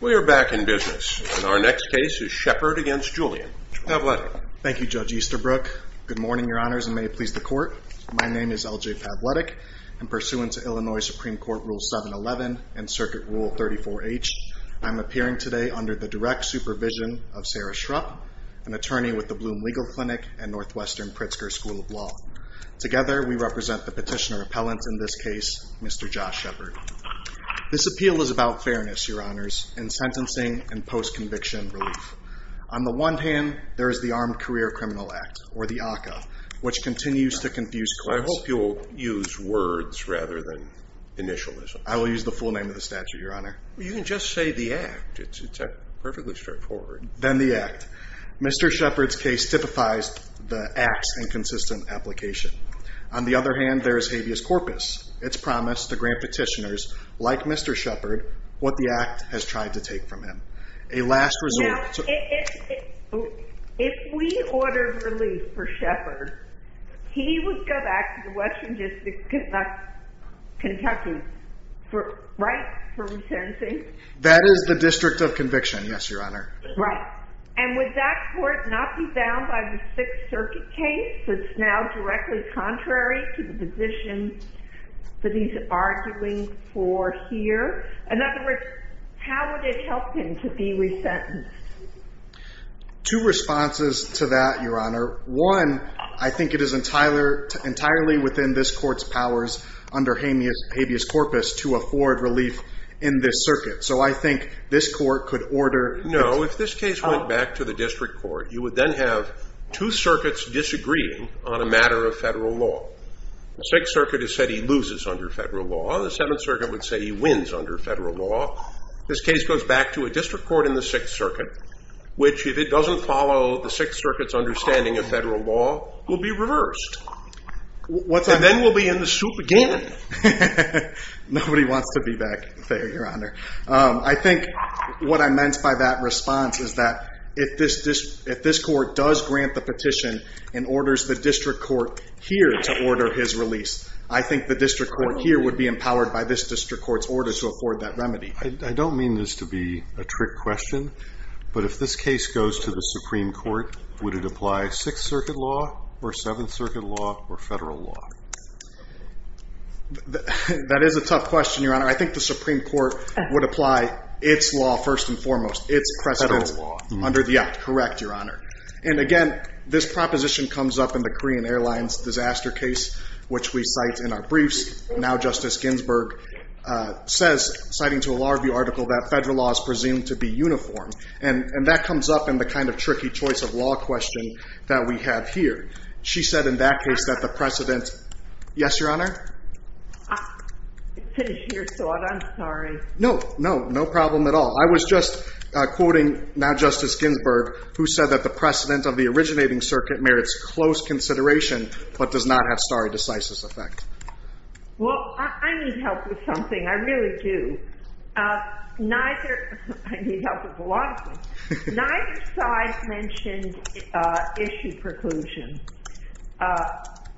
We are back in business and our next case is Shepherd v. Julian. Pavletic. Thank you, Judge Easterbrook. Good morning, Your Honors, and may it please the Court. My name is L.J. Pavletic, and pursuant to Illinois Supreme Court Rule 711 and Circuit Rule 34H, I am appearing today under the direct supervision of Sarah Shrupp, an attorney with the Blum Legal Clinic and Northwestern Pritzker School of Law. Together, we represent the petitioner appellant in this case, Mr. Josh Shepherd. This appeal is about fairness, Your Honors, in sentencing and post-conviction relief. On the one hand, there is the Armed Career Criminal Act, or the ACCA, which continues to confuse courts. I hope you'll use words rather than initials. I will use the full name of the statute, Your Honor. You can just say the act. It's perfectly straightforward. Then the act. Mr. Shepherd's case typifies the act's inconsistent application. On the other hand, there is habeas corpus. It's promised the grand petitioners, like Mr. Shepherd, what the act has tried to take from him. A last resort... Now, if we ordered relief for Shepherd, he would go back to the Western District of Kentucky, right, for retention? That is the District of Conviction, yes, Your Honor. Right. And would that court not be bound by the Sixth Circuit case, that's now directly contrary to the position that he's arguing for here? In other words, how would it help him to be resentenced? Two responses to that, Your Honor. One, I think it is entirely within this court's powers under habeas corpus to afford relief in this circuit. So I think this court could order... No, if this case went back to the district court, you would then have two circuits disagreeing on a matter of federal law. The Sixth Circuit has said he loses under federal law. The Seventh Circuit would say he wins under federal law. This case goes back to a district court in the Sixth Circuit, which, if it doesn't follow the Sixth Circuit's understanding of federal law, will be reversed. And then we'll be in the soup again. Nobody wants to be back there, Your Honor. I think what I meant by that response is that if this court does grant the petition and orders the district court here to order his release, I think the district court here would be empowered by this district court's order to afford that remedy. I don't mean this to be a trick question, but if this case goes to the Supreme Court, would it apply Sixth Circuit law or Seventh Circuit? That is a tough question, Your Honor. I think the Supreme Court would apply its law first and foremost, its precedent under the act. Correct, Your Honor. And again, this proposition comes up in the Korean Airlines disaster case, which we cite in our briefs. Now Justice Ginsburg says, citing to a law review article, that federal law is presumed to be uniform. And that comes up in the kind of tricky choice of law question that we have here. She said in that case that the precedent... Yes, Your Honor? Finish your thought. I'm sorry. No, no, no problem at all. I was just quoting now Justice Ginsburg, who said that the precedent of the originating circuit merits close consideration, but does not have stare decisis effect. Well, I need help with something. I really do. Neither... I need help with a lot of things. Neither side mentioned issue preclusion.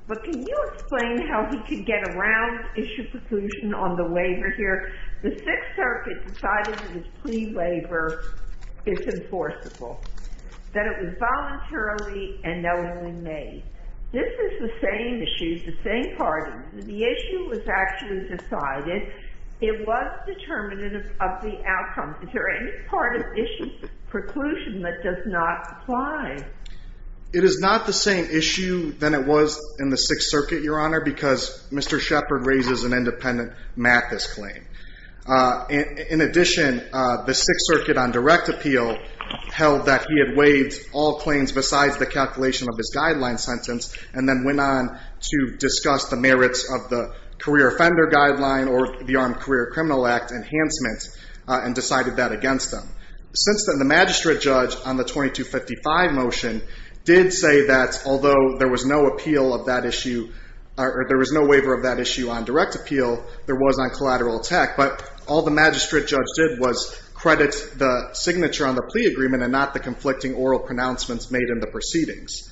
But can you explain how he could get around issue preclusion on the waiver here? The Sixth Circuit decided it was pre-waiver disenforceable, that it was voluntarily and knowingly made. This is the same issue, the same part. The issue was actually decided. It was determinative of the outcome. Is there part of issue preclusion that does not apply? It is not the same issue than it was in the Sixth Circuit, Your Honor, because Mr. Shepard raises an independent Mathis claim. In addition, the Sixth Circuit on direct appeal held that he had waived all claims besides the calculation of his guideline sentence and then went on to discuss the merits of the career offender guideline or the Armed Career Criminal Act enhancement and decided that against them. Since then, the magistrate judge on the 2255 motion did say that although there was no appeal of that issue, there was no waiver of that issue on direct appeal, there was on collateral attack. But all the magistrate judge did was credit the signature on the plea agreement and not the conflicting oral pronouncements made in the proceedings.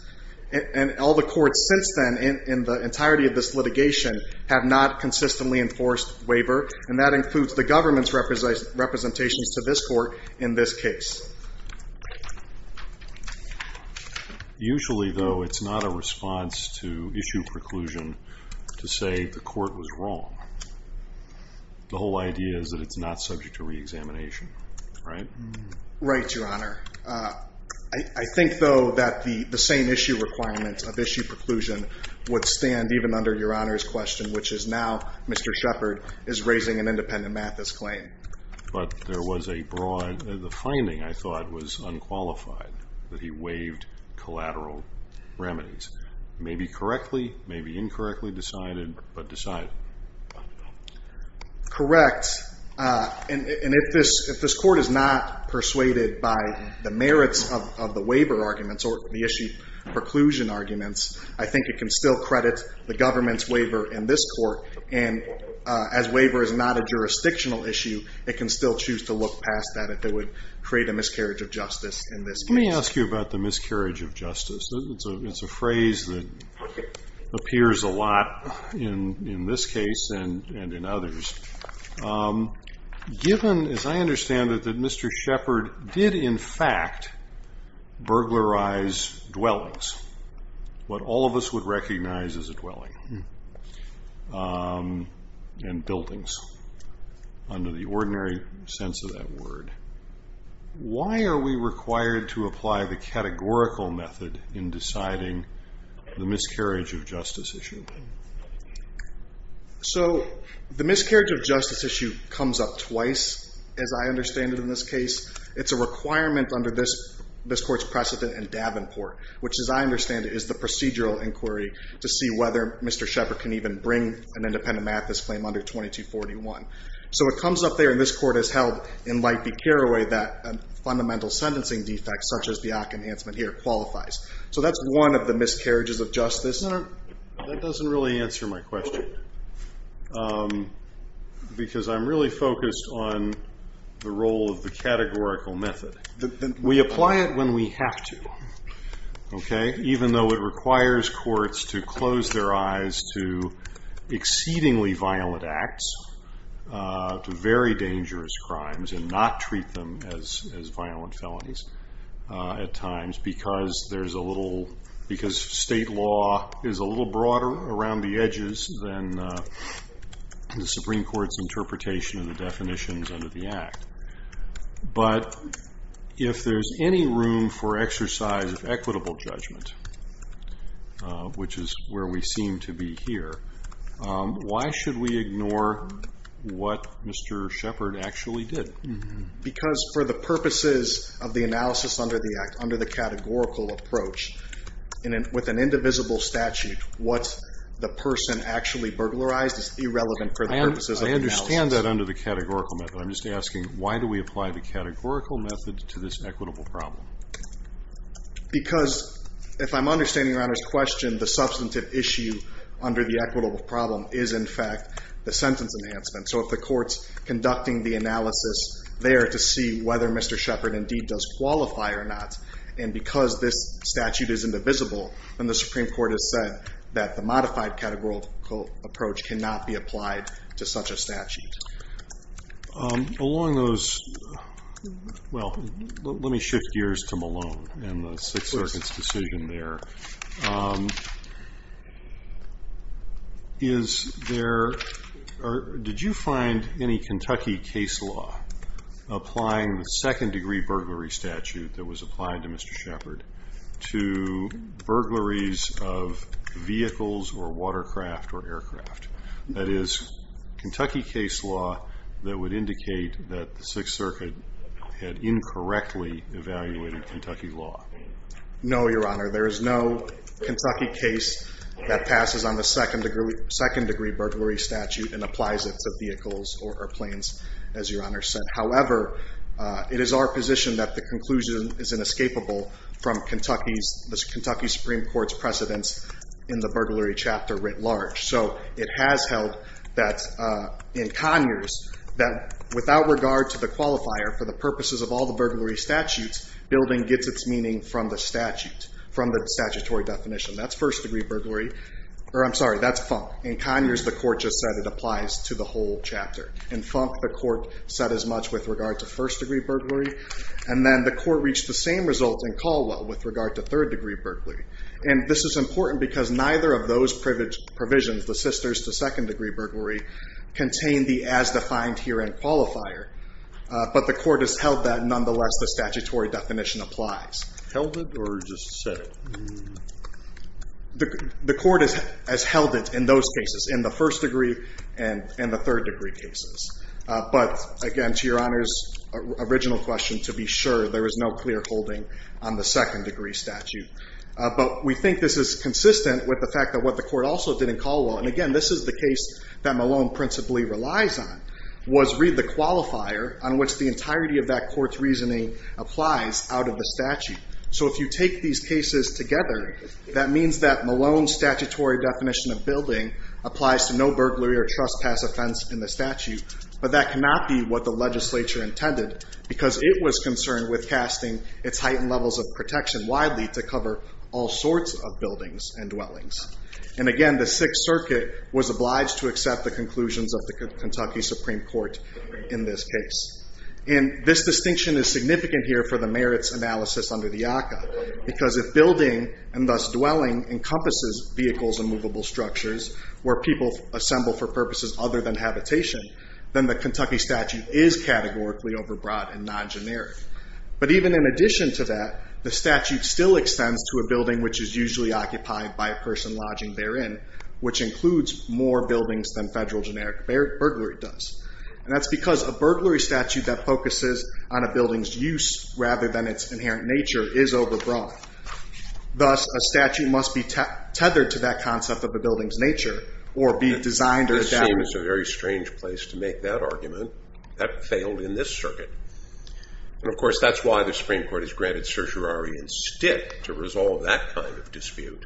And all the courts since then, in the entirety of this litigation, have not consistently enforced waiver, and that includes the government's representations to this court in this case. Usually, though, it's not a response to issue preclusion to say the court was wrong. The whole idea is that it's not subject to reexamination, right? Right, Your Honor. I think, though, that the same issue requirement of issue preclusion would stand even under Your Honor's question, which is now Mr. Shepherd is raising an independent Mathis claim. But there was a broad, the finding, I thought, was unqualified, that he waived collateral remedies. Maybe correctly, maybe incorrectly decided, but decided. Correct. And if this court is not persuaded by the merits of the waiver arguments or the issue preclusion arguments, I think it can still credit the government's waiver in this court. And as waiver is not a jurisdictional issue, it can still choose to look past that if it would create a miscarriage of justice in this case. Let me ask you about the miscarriage of justice. It's a phrase that appears a lot in this case and in others. Given, as I understand it, that Mr. Shepherd did, in fact, burglarize dwellings, what all of us would recognize as a dwelling, and buildings, under the ordinary sense of that word. Why are we required to apply the categorical method in deciding the miscarriage of justice issue? So the miscarriage of justice issue comes up twice, as I understand it, in this case. It's a requirement under this court's precedent in Davenport, which, as I understand it, is the procedural inquiry to see whether Mr. Shepherd can even bring an independent Mathis claim under 2241. So it comes up there, and this court has held in Light v. Carraway that a fundamental sentencing defect, such as the AAC enhancement here, qualifies. So that's one of the miscarriages of justice. No, that doesn't really answer my question, because I'm really focused on the role of the categorical method. We apply it when we have to, even though it requires courts to close their eyes to exceedingly violent acts, to very dangerous crimes, and not treat them as violent felonies at times, because state law is a little broader around the edges than the Supreme Court's interpretation of the definitions under the Act. But if there's any room for exercise of equitable judgment, which is where we seem to be here, why should we ignore what Mr. Shepherd actually did? Because for the purposes of the analysis under the Act, under the categorical approach, with an indivisible statute, what the person actually burglarized is irrelevant for the purposes of the analysis. I understand that under the categorical method. I'm just asking, why do we apply the categorical method to this equitable problem? Because, if I'm understanding Your Honor's question, the substantive issue under the equitable problem is, in fact, the sentence enhancement. So if the court's there to see whether Mr. Shepherd indeed does qualify or not, and because this statute is indivisible, then the Supreme Court has said that the modified categorical approach cannot be applied to such a statute. Let me shift gears to Malone and the Sixth Circuit's decision there. Malone, did you find any Kentucky case law applying the second-degree burglary statute that was applied to Mr. Shepherd to burglaries of vehicles or watercraft or aircraft? That is, Kentucky case law that would indicate that the Sixth Circuit had incorrectly evaluated Kentucky law. No, Your Honor. There is no Kentucky case that passes on the second-degree burglary statute and applies it to vehicles or planes, as Your Honor said. However, it is our position that the conclusion is inescapable from the Kentucky Supreme Court's precedence in the burglary chapter writ large. So it has held that in Conyers, that without regard to the qualifier, for the purposes of all the burglary statutes, building gets its meaning from the statute, from the statutory definition. That's first-degree burglary. Or, I'm sorry, that's Funk. In Conyers, the Court just said it applies to the whole chapter. In Funk, the Court said as much with regard to first-degree burglary. And then the Court reached the same result in Caldwell with regard to third-degree burglary. And this is important because neither of those provisions, the sisters to second-degree burglary, contain the as-defined herein qualifier. But the Court has held that nonetheless the statutory definition applies. Held it or just said it? The Court has held it in those cases, in the first-degree and in the third-degree cases. But again, to Your Honor's original question, to be sure, there is no clear holding on the second-degree statute. But we think this is consistent with the fact that what the Court also did in Caldwell, and again, this is the case that Malone principally relies on, was read the qualifier on which the entirety of that Court's reasoning applies out of the statute. So if you take these cases together, that means that Malone's statutory definition of building applies to no burglary or trespass offense in the statute. But that cannot be what the legislature intended, because it was concerned with casting its heightened levels of protection widely to cover all sorts of buildings and dwellings. And again, the Sixth Circuit was obliged to accept the conclusions of the Kentucky Supreme Court in this case. And this distinction is significant here for the merits analysis under the ACCA, because if building, and thus dwelling, encompasses vehicles and movable structures, where people assemble for purposes other than habitation, then the Kentucky statute is categorically overbroad and non-generic. But even in addition to that, the statute still which includes more buildings than federal generic burglary does. And that's because a burglary statute that focuses on a building's use rather than its inherent nature is overbroad. Thus, a statute must be tethered to that concept of a building's nature, or be designed or adapted. This seems a very strange place to make that argument. That failed in this circuit. And of course, that's why the Supreme Court has granted certiorari and stick to resolve that kind of issue.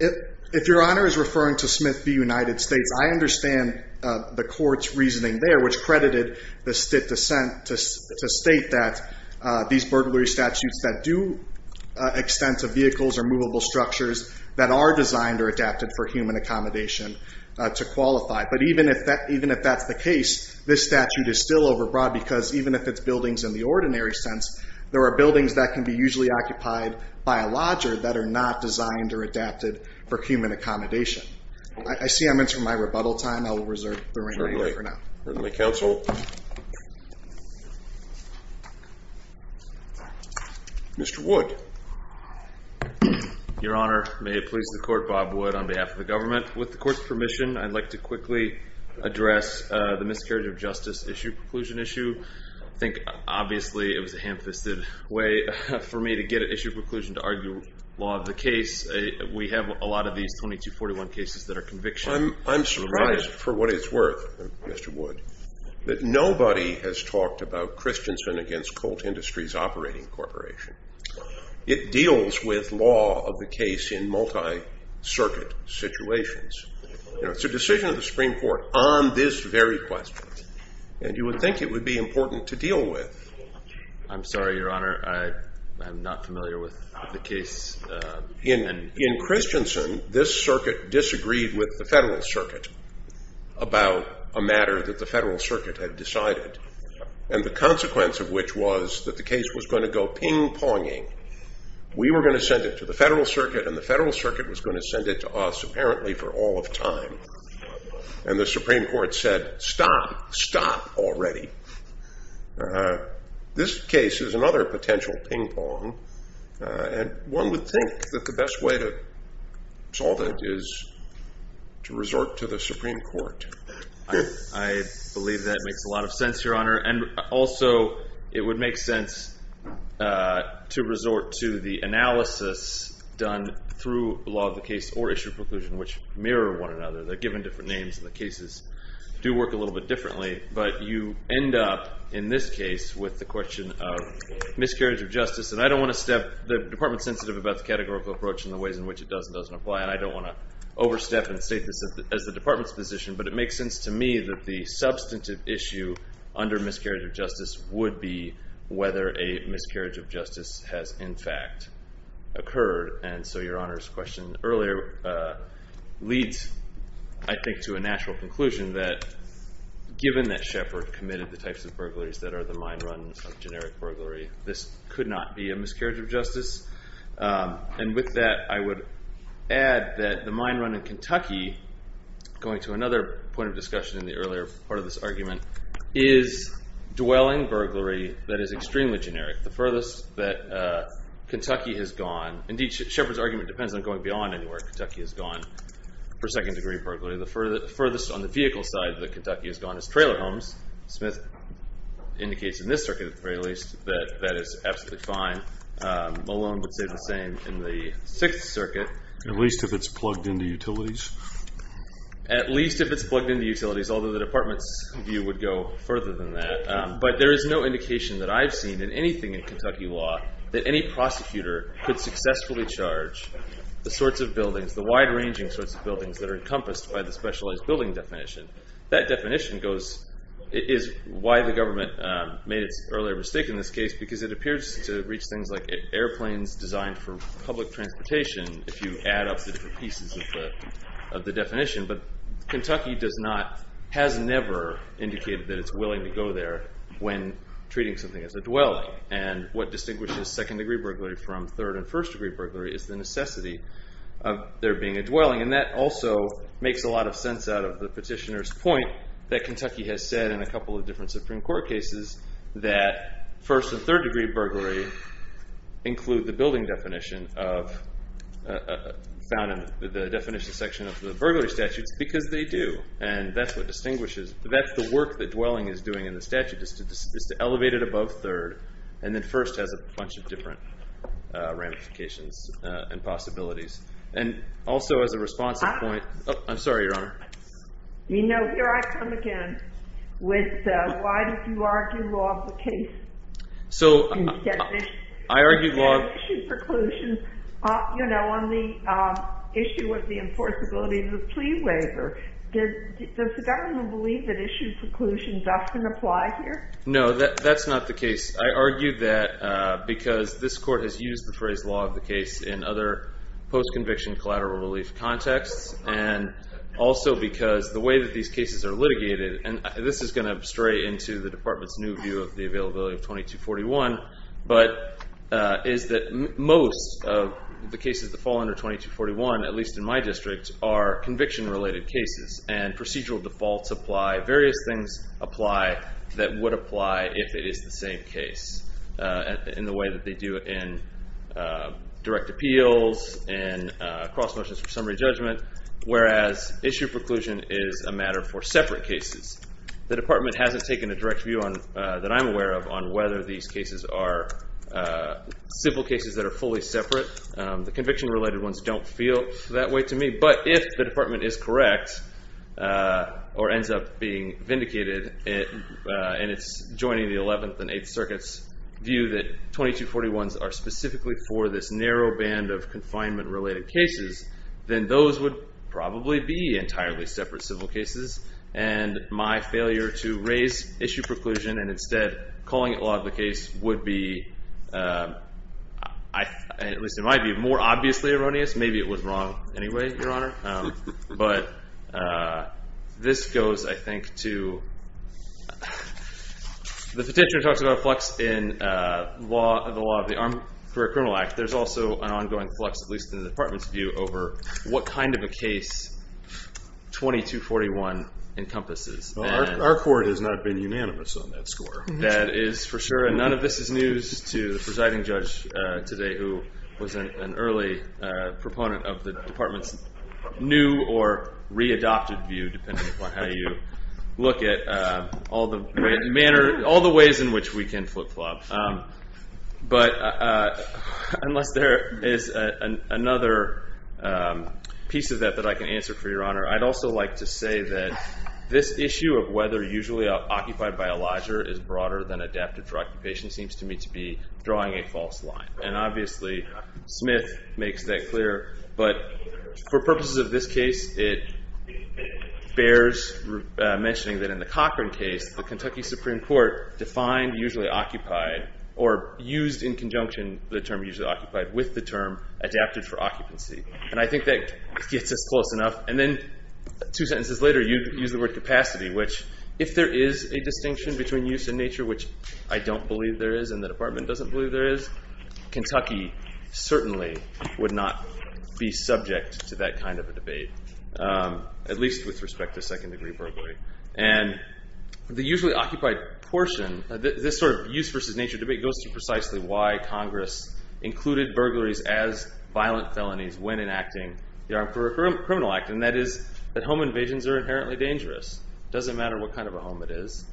If Your Honor is referring to Smith v. United States, I understand the court's reasoning there, which credited the Stitt dissent to state that these burglary statutes that do extend to vehicles or movable structures that are designed or adapted for human accommodation to qualify. But even if that's the case, this statute is still overbroad, because even if it's buildings in the ordinary sense, there are buildings that can be usually occupied by a lodger that are not designed or adapted for human accommodation. I see I'm entering my rebuttal time. I will reserve the remaining time for now. Currently, counsel. Mr. Wood. Your Honor, may it please the court, Bob Wood on behalf of the government. With the court's permission, I'd like to quickly address the miscarriage of justice issue, preclusion issue. I think obviously it was a ham-fisted way for me to get at issue preclusion to argue law of the case. We have a lot of these 2241 cases that are convictions. I'm surprised for what it's worth, Mr. Wood, that nobody has talked about Christiansen against Colt Industries Operating Corporation. It deals with law of the case in multi-circuit situations. It's a decision of the Supreme Court on this very question, and you would think it would be important to deal with. I'm sorry, Your Honor. I'm not familiar with the case. In Christiansen, this circuit disagreed with the Federal Circuit about a matter that the Federal Circuit had decided, and the consequence of which was that the case was going to go ping-ponging. We were going to send it to the Federal Circuit, and the Federal Circuit was going to send it to us apparently for all of time. And the Supreme Court said, stop. Stop already. This case is another potential ping-pong, and one would think that the best way to solve it is to resort to the Supreme Court. I believe that makes a lot of sense, Your Honor. And also, it would make sense to resort to the analysis done through law of the case or issue preclusion, which mirror one another. They're given different names, and the cases do work a little bit differently. But you end up, in this case, with the question of miscarriage of justice. And I don't want to step, the Department's sensitive about the categorical approach and the ways in which it does and doesn't apply, and I don't want to overstep and state this as the Department's position, but it makes sense to me that the substantive issue under miscarriage of justice would be whether a miscarriage of justice has, in fact, occurred. And so Your Honor's question earlier leads, I think, to a natural conclusion that, given that Shepard committed the types of burglaries that are the mine run of generic burglary, this could not be a miscarriage of justice. And with that, I would add that the mine run in Kentucky, going to another point of discussion in the earlier part of this argument, is dwelling burglary that is extremely generic, the furthest that Kentucky has gone. Indeed, Shepard's argument depends on going beyond where Kentucky has gone for second degree burglary. The furthest on the vehicle side that Kentucky has gone is trailer homes. Smith indicates in this circuit, at the very least, that that is absolutely fine. Malone would say the same in the Sixth Circuit. At least if it's plugged into utilities. At least if it's plugged into utilities, although the Department's view would go further than that. But there is no indication that I've seen in anything in Kentucky law that any prosecutor could successfully charge the sorts of buildings, the wide-ranging sorts of buildings that are encompassed by the specialized building definition. That definition is why the government made its earlier mistake in this case, because it appears to reach things like airplanes designed for public transportation, if you add up the different pieces of the definition. But Kentucky has never indicated that it's willing to go there when treating something as a dwelling. And what distinguishes second degree burglary from third and first degree burglary is the necessity of there being a dwelling. And that also makes a lot of sense out of the petitioner's point that Kentucky has said in a couple of different Supreme Court cases that first and third degree burglary include the building definition found in the definition section of the burglary statutes, because they do. And that's what distinguishes. That's the work that dwelling is doing in the statute, is to elevate it above third, and then first has a bunch of different ramifications and possibilities. And also as a response to the point, oh, I'm sorry, Your Honor. You know, here I come again with why did you argue law of the case? So I argued law of the case. In the definition preclusion, you know, on the issue of the enforceability of the plea waiver, does the government believe that issue preclusions often apply here? No, that's not the case. I argued that because this Court has used the phrase law of the case in other post-conviction collateral relief contexts, and also because the way that these cases are litigated, and this is going to stray into the Department's new view of the availability of 2241, but is that most of the cases that fall under 2241, at least in my district, are conviction-related cases. And procedural defaults apply. Various things apply that would apply if it is the same case in the way that they do in direct appeals, in cross motions for summary judgment, whereas issue preclusion is a matter for separate cases. The Department hasn't taken a direct view that I'm aware of on whether these cases are simple cases that are fully separate. The conviction-related ones don't feel that way to me. But if the Department is correct, or ends up being vindicated, and it's joining the 11th and 8th Circuits' view that 2241s are specifically for this narrow band of confinement-related cases, then those would probably be entirely separate civil cases, and my failure to raise issue preclusion and instead calling it law of the case would be, at least it might be more obviously erroneous. Maybe it was wrong anyway, Your Honor. But this goes, I think, to the petitioner talks about a flux in the law of the Armed Career Criminal Act. There's also an ongoing flux, at least in the Department's view, over what kind of a case 2241 encompasses. Our court has not been unanimous on that score. That is for sure. And none of this is news to the presiding judge today, who was an early proponent of the Department's new or readopted view, depending upon how you look at all the ways in which we can flip-flop. But unless there is another piece of that that I can answer for Your Honor, I'd also like to say that this issue of whether usually occupied by a lodger is broader than adapted for occupation seems to me to be drawing a false line. And obviously, Smith makes that clear. But for purposes of this case, it bears mentioning that in the Cochran case, the Kentucky Supreme Court defined usually occupied, or used in conjunction the term usually occupied with the term adapted for occupancy. And I think that gets us close enough. And then two sentences later, you use the word capacity, which if there is a distinction between use and nature, which I don't believe there is and the Department doesn't believe there is, Kentucky certainly would not be subject to that kind of a debate, at least with respect to second degree burglary. And the usually occupied portion, this sort of use versus nature debate, goes to precisely why Congress included burglaries as violent felonies when enacting the Armed Criminal Act. And that is that home invasions are inherently dangerous. Doesn't matter what kind of a home it is.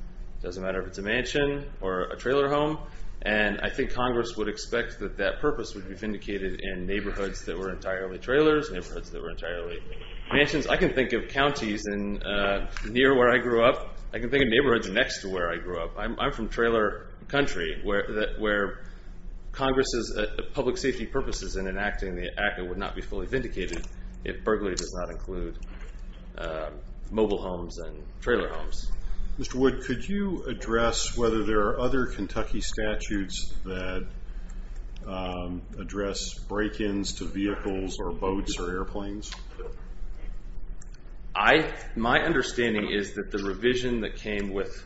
Doesn't matter if it's a mansion or a trailer home. And I think Congress would expect that that purpose would be vindicated in neighborhoods that were entirely trailers, neighborhoods that were entirely mansions. I can think of counties near where I grew up. I can think of neighborhoods next to where I grew up. I'm from trailer country, where Congress's public safety purposes in enacting the Act would not be fully vindicated if burglary does not include mobile homes and trailer homes. Mr. Wood, could you address whether there are other Kentucky statutes that address break-ins to vehicles or boats or airplanes? My understanding is that the revision that came with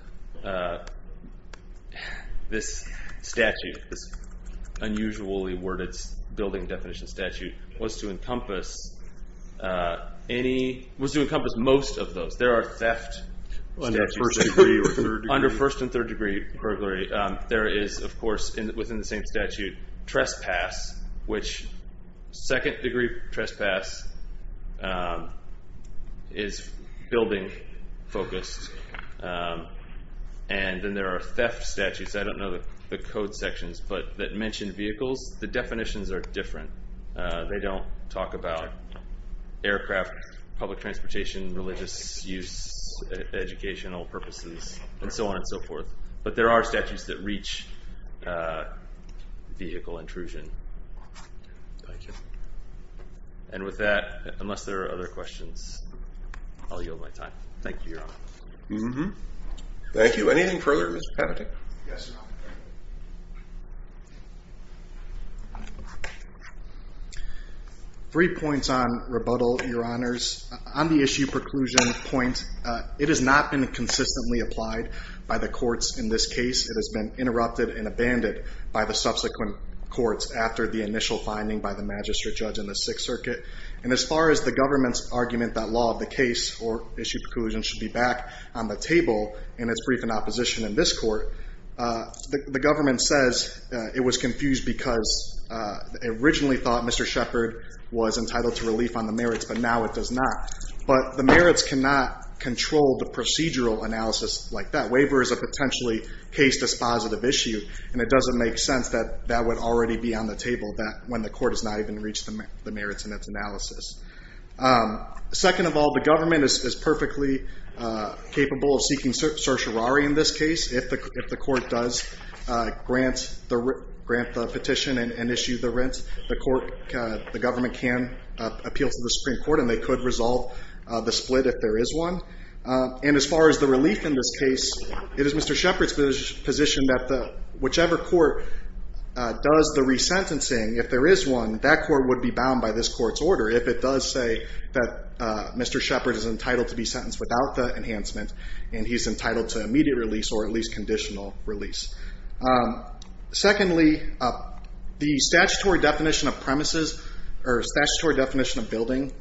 this statute, this unusually worded building definition statute, was to encompass most of those. There are theft statutes. Under first and third degree burglary, there is, of course, within the same statute, trespass, which second degree trespass is building focused. And then there are theft statutes. I don't know the code sections, but that mention vehicles. The definitions are different. They don't talk about aircraft, public transportation, religious use, educational purposes, and so on and so forth. But there are statutes that reach vehicle intrusion. Thank you. And with that, unless there are other questions, I'll yield my time. Thank you, Your Honor. Thank you. Anything further? Three points on rebuttal, Your Honors. On the issue preclusion point, it has not been consistently applied by the courts in this case. It has been interrupted and abandoned by the subsequent courts after the initial finding by the magistrate judge in the Sixth Circuit. And as far as the government's argument that law of the case or issue preclusion should be back on the table in its brief in opposition in this court, the government says it was confused because it originally thought Mr. Shepard was entitled to relief on the merits, but now it does not. But the merits cannot control the procedural analysis like that. Waiver is a potentially case dispositive issue, and it doesn't make sense that that would already be on the table when the court has not even reached the merits in its analysis. Second of all, the government is perfectly capable of seeking certiorari in this case. If the court does grant the petition and issue the rent, the government can appeal to the Supreme Court, and they could resolve the split if there is one. And as far as the relief in this case, it is Mr. Shepard's position that whichever court does the resentencing, if there is one, that court would be bound by this court's order if it does say that Mr. Shepard is entitled to be sentenced without the enhancement and he's entitled to immediate release or at least conditional release. Secondly, the statutory definition of premises or statutory definition of building,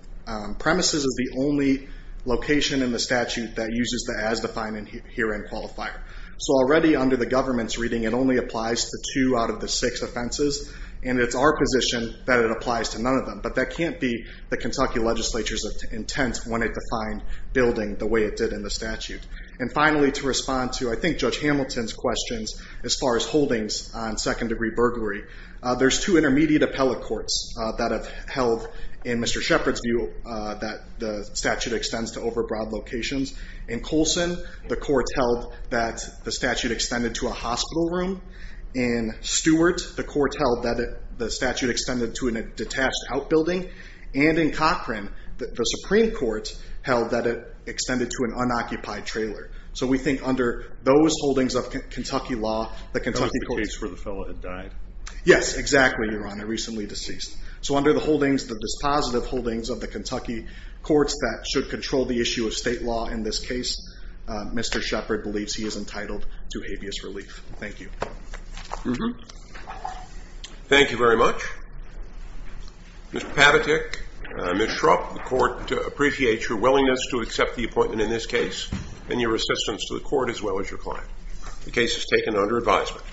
premises is the only location in the statute that uses the as-defined herein qualifier. So already under the government's reading, it only applies to two out of the six offenses, and it's our position that it applies to none of them. But that can't be the Kentucky legislature's intent when it defined building the way it did in the statute. And finally, to respond to, I think, Judge Hamilton's questions as far as holdings on second-degree burglary, there's two intermediate appellate courts that have held, in Mr. Shepard's view, that the statute extends to overbroad locations. In Colson, the court held that the statute extended to a hospital room. In Stewart, the court held that the statute extended to a detached outbuilding. And in Cochran, the Supreme Court held that it extended to an unoccupied trailer. So we think under those holdings of Kentucky law, the Kentucky court's- That was the case where the fellow had died. Yes, exactly, Your Honor, recently deceased. So under the holdings, the dispositive holdings of the Kentucky courts that should control the issue of state law in this case, Mr. Shepard believes he is entitled to habeas relief. Thank you. Thank you very much. Mr. Pavatek, Ms. Shrupp, the court appreciates your willingness to accept the appointment in this case and your assistance to the court as well as your client. The case is taken under advisement.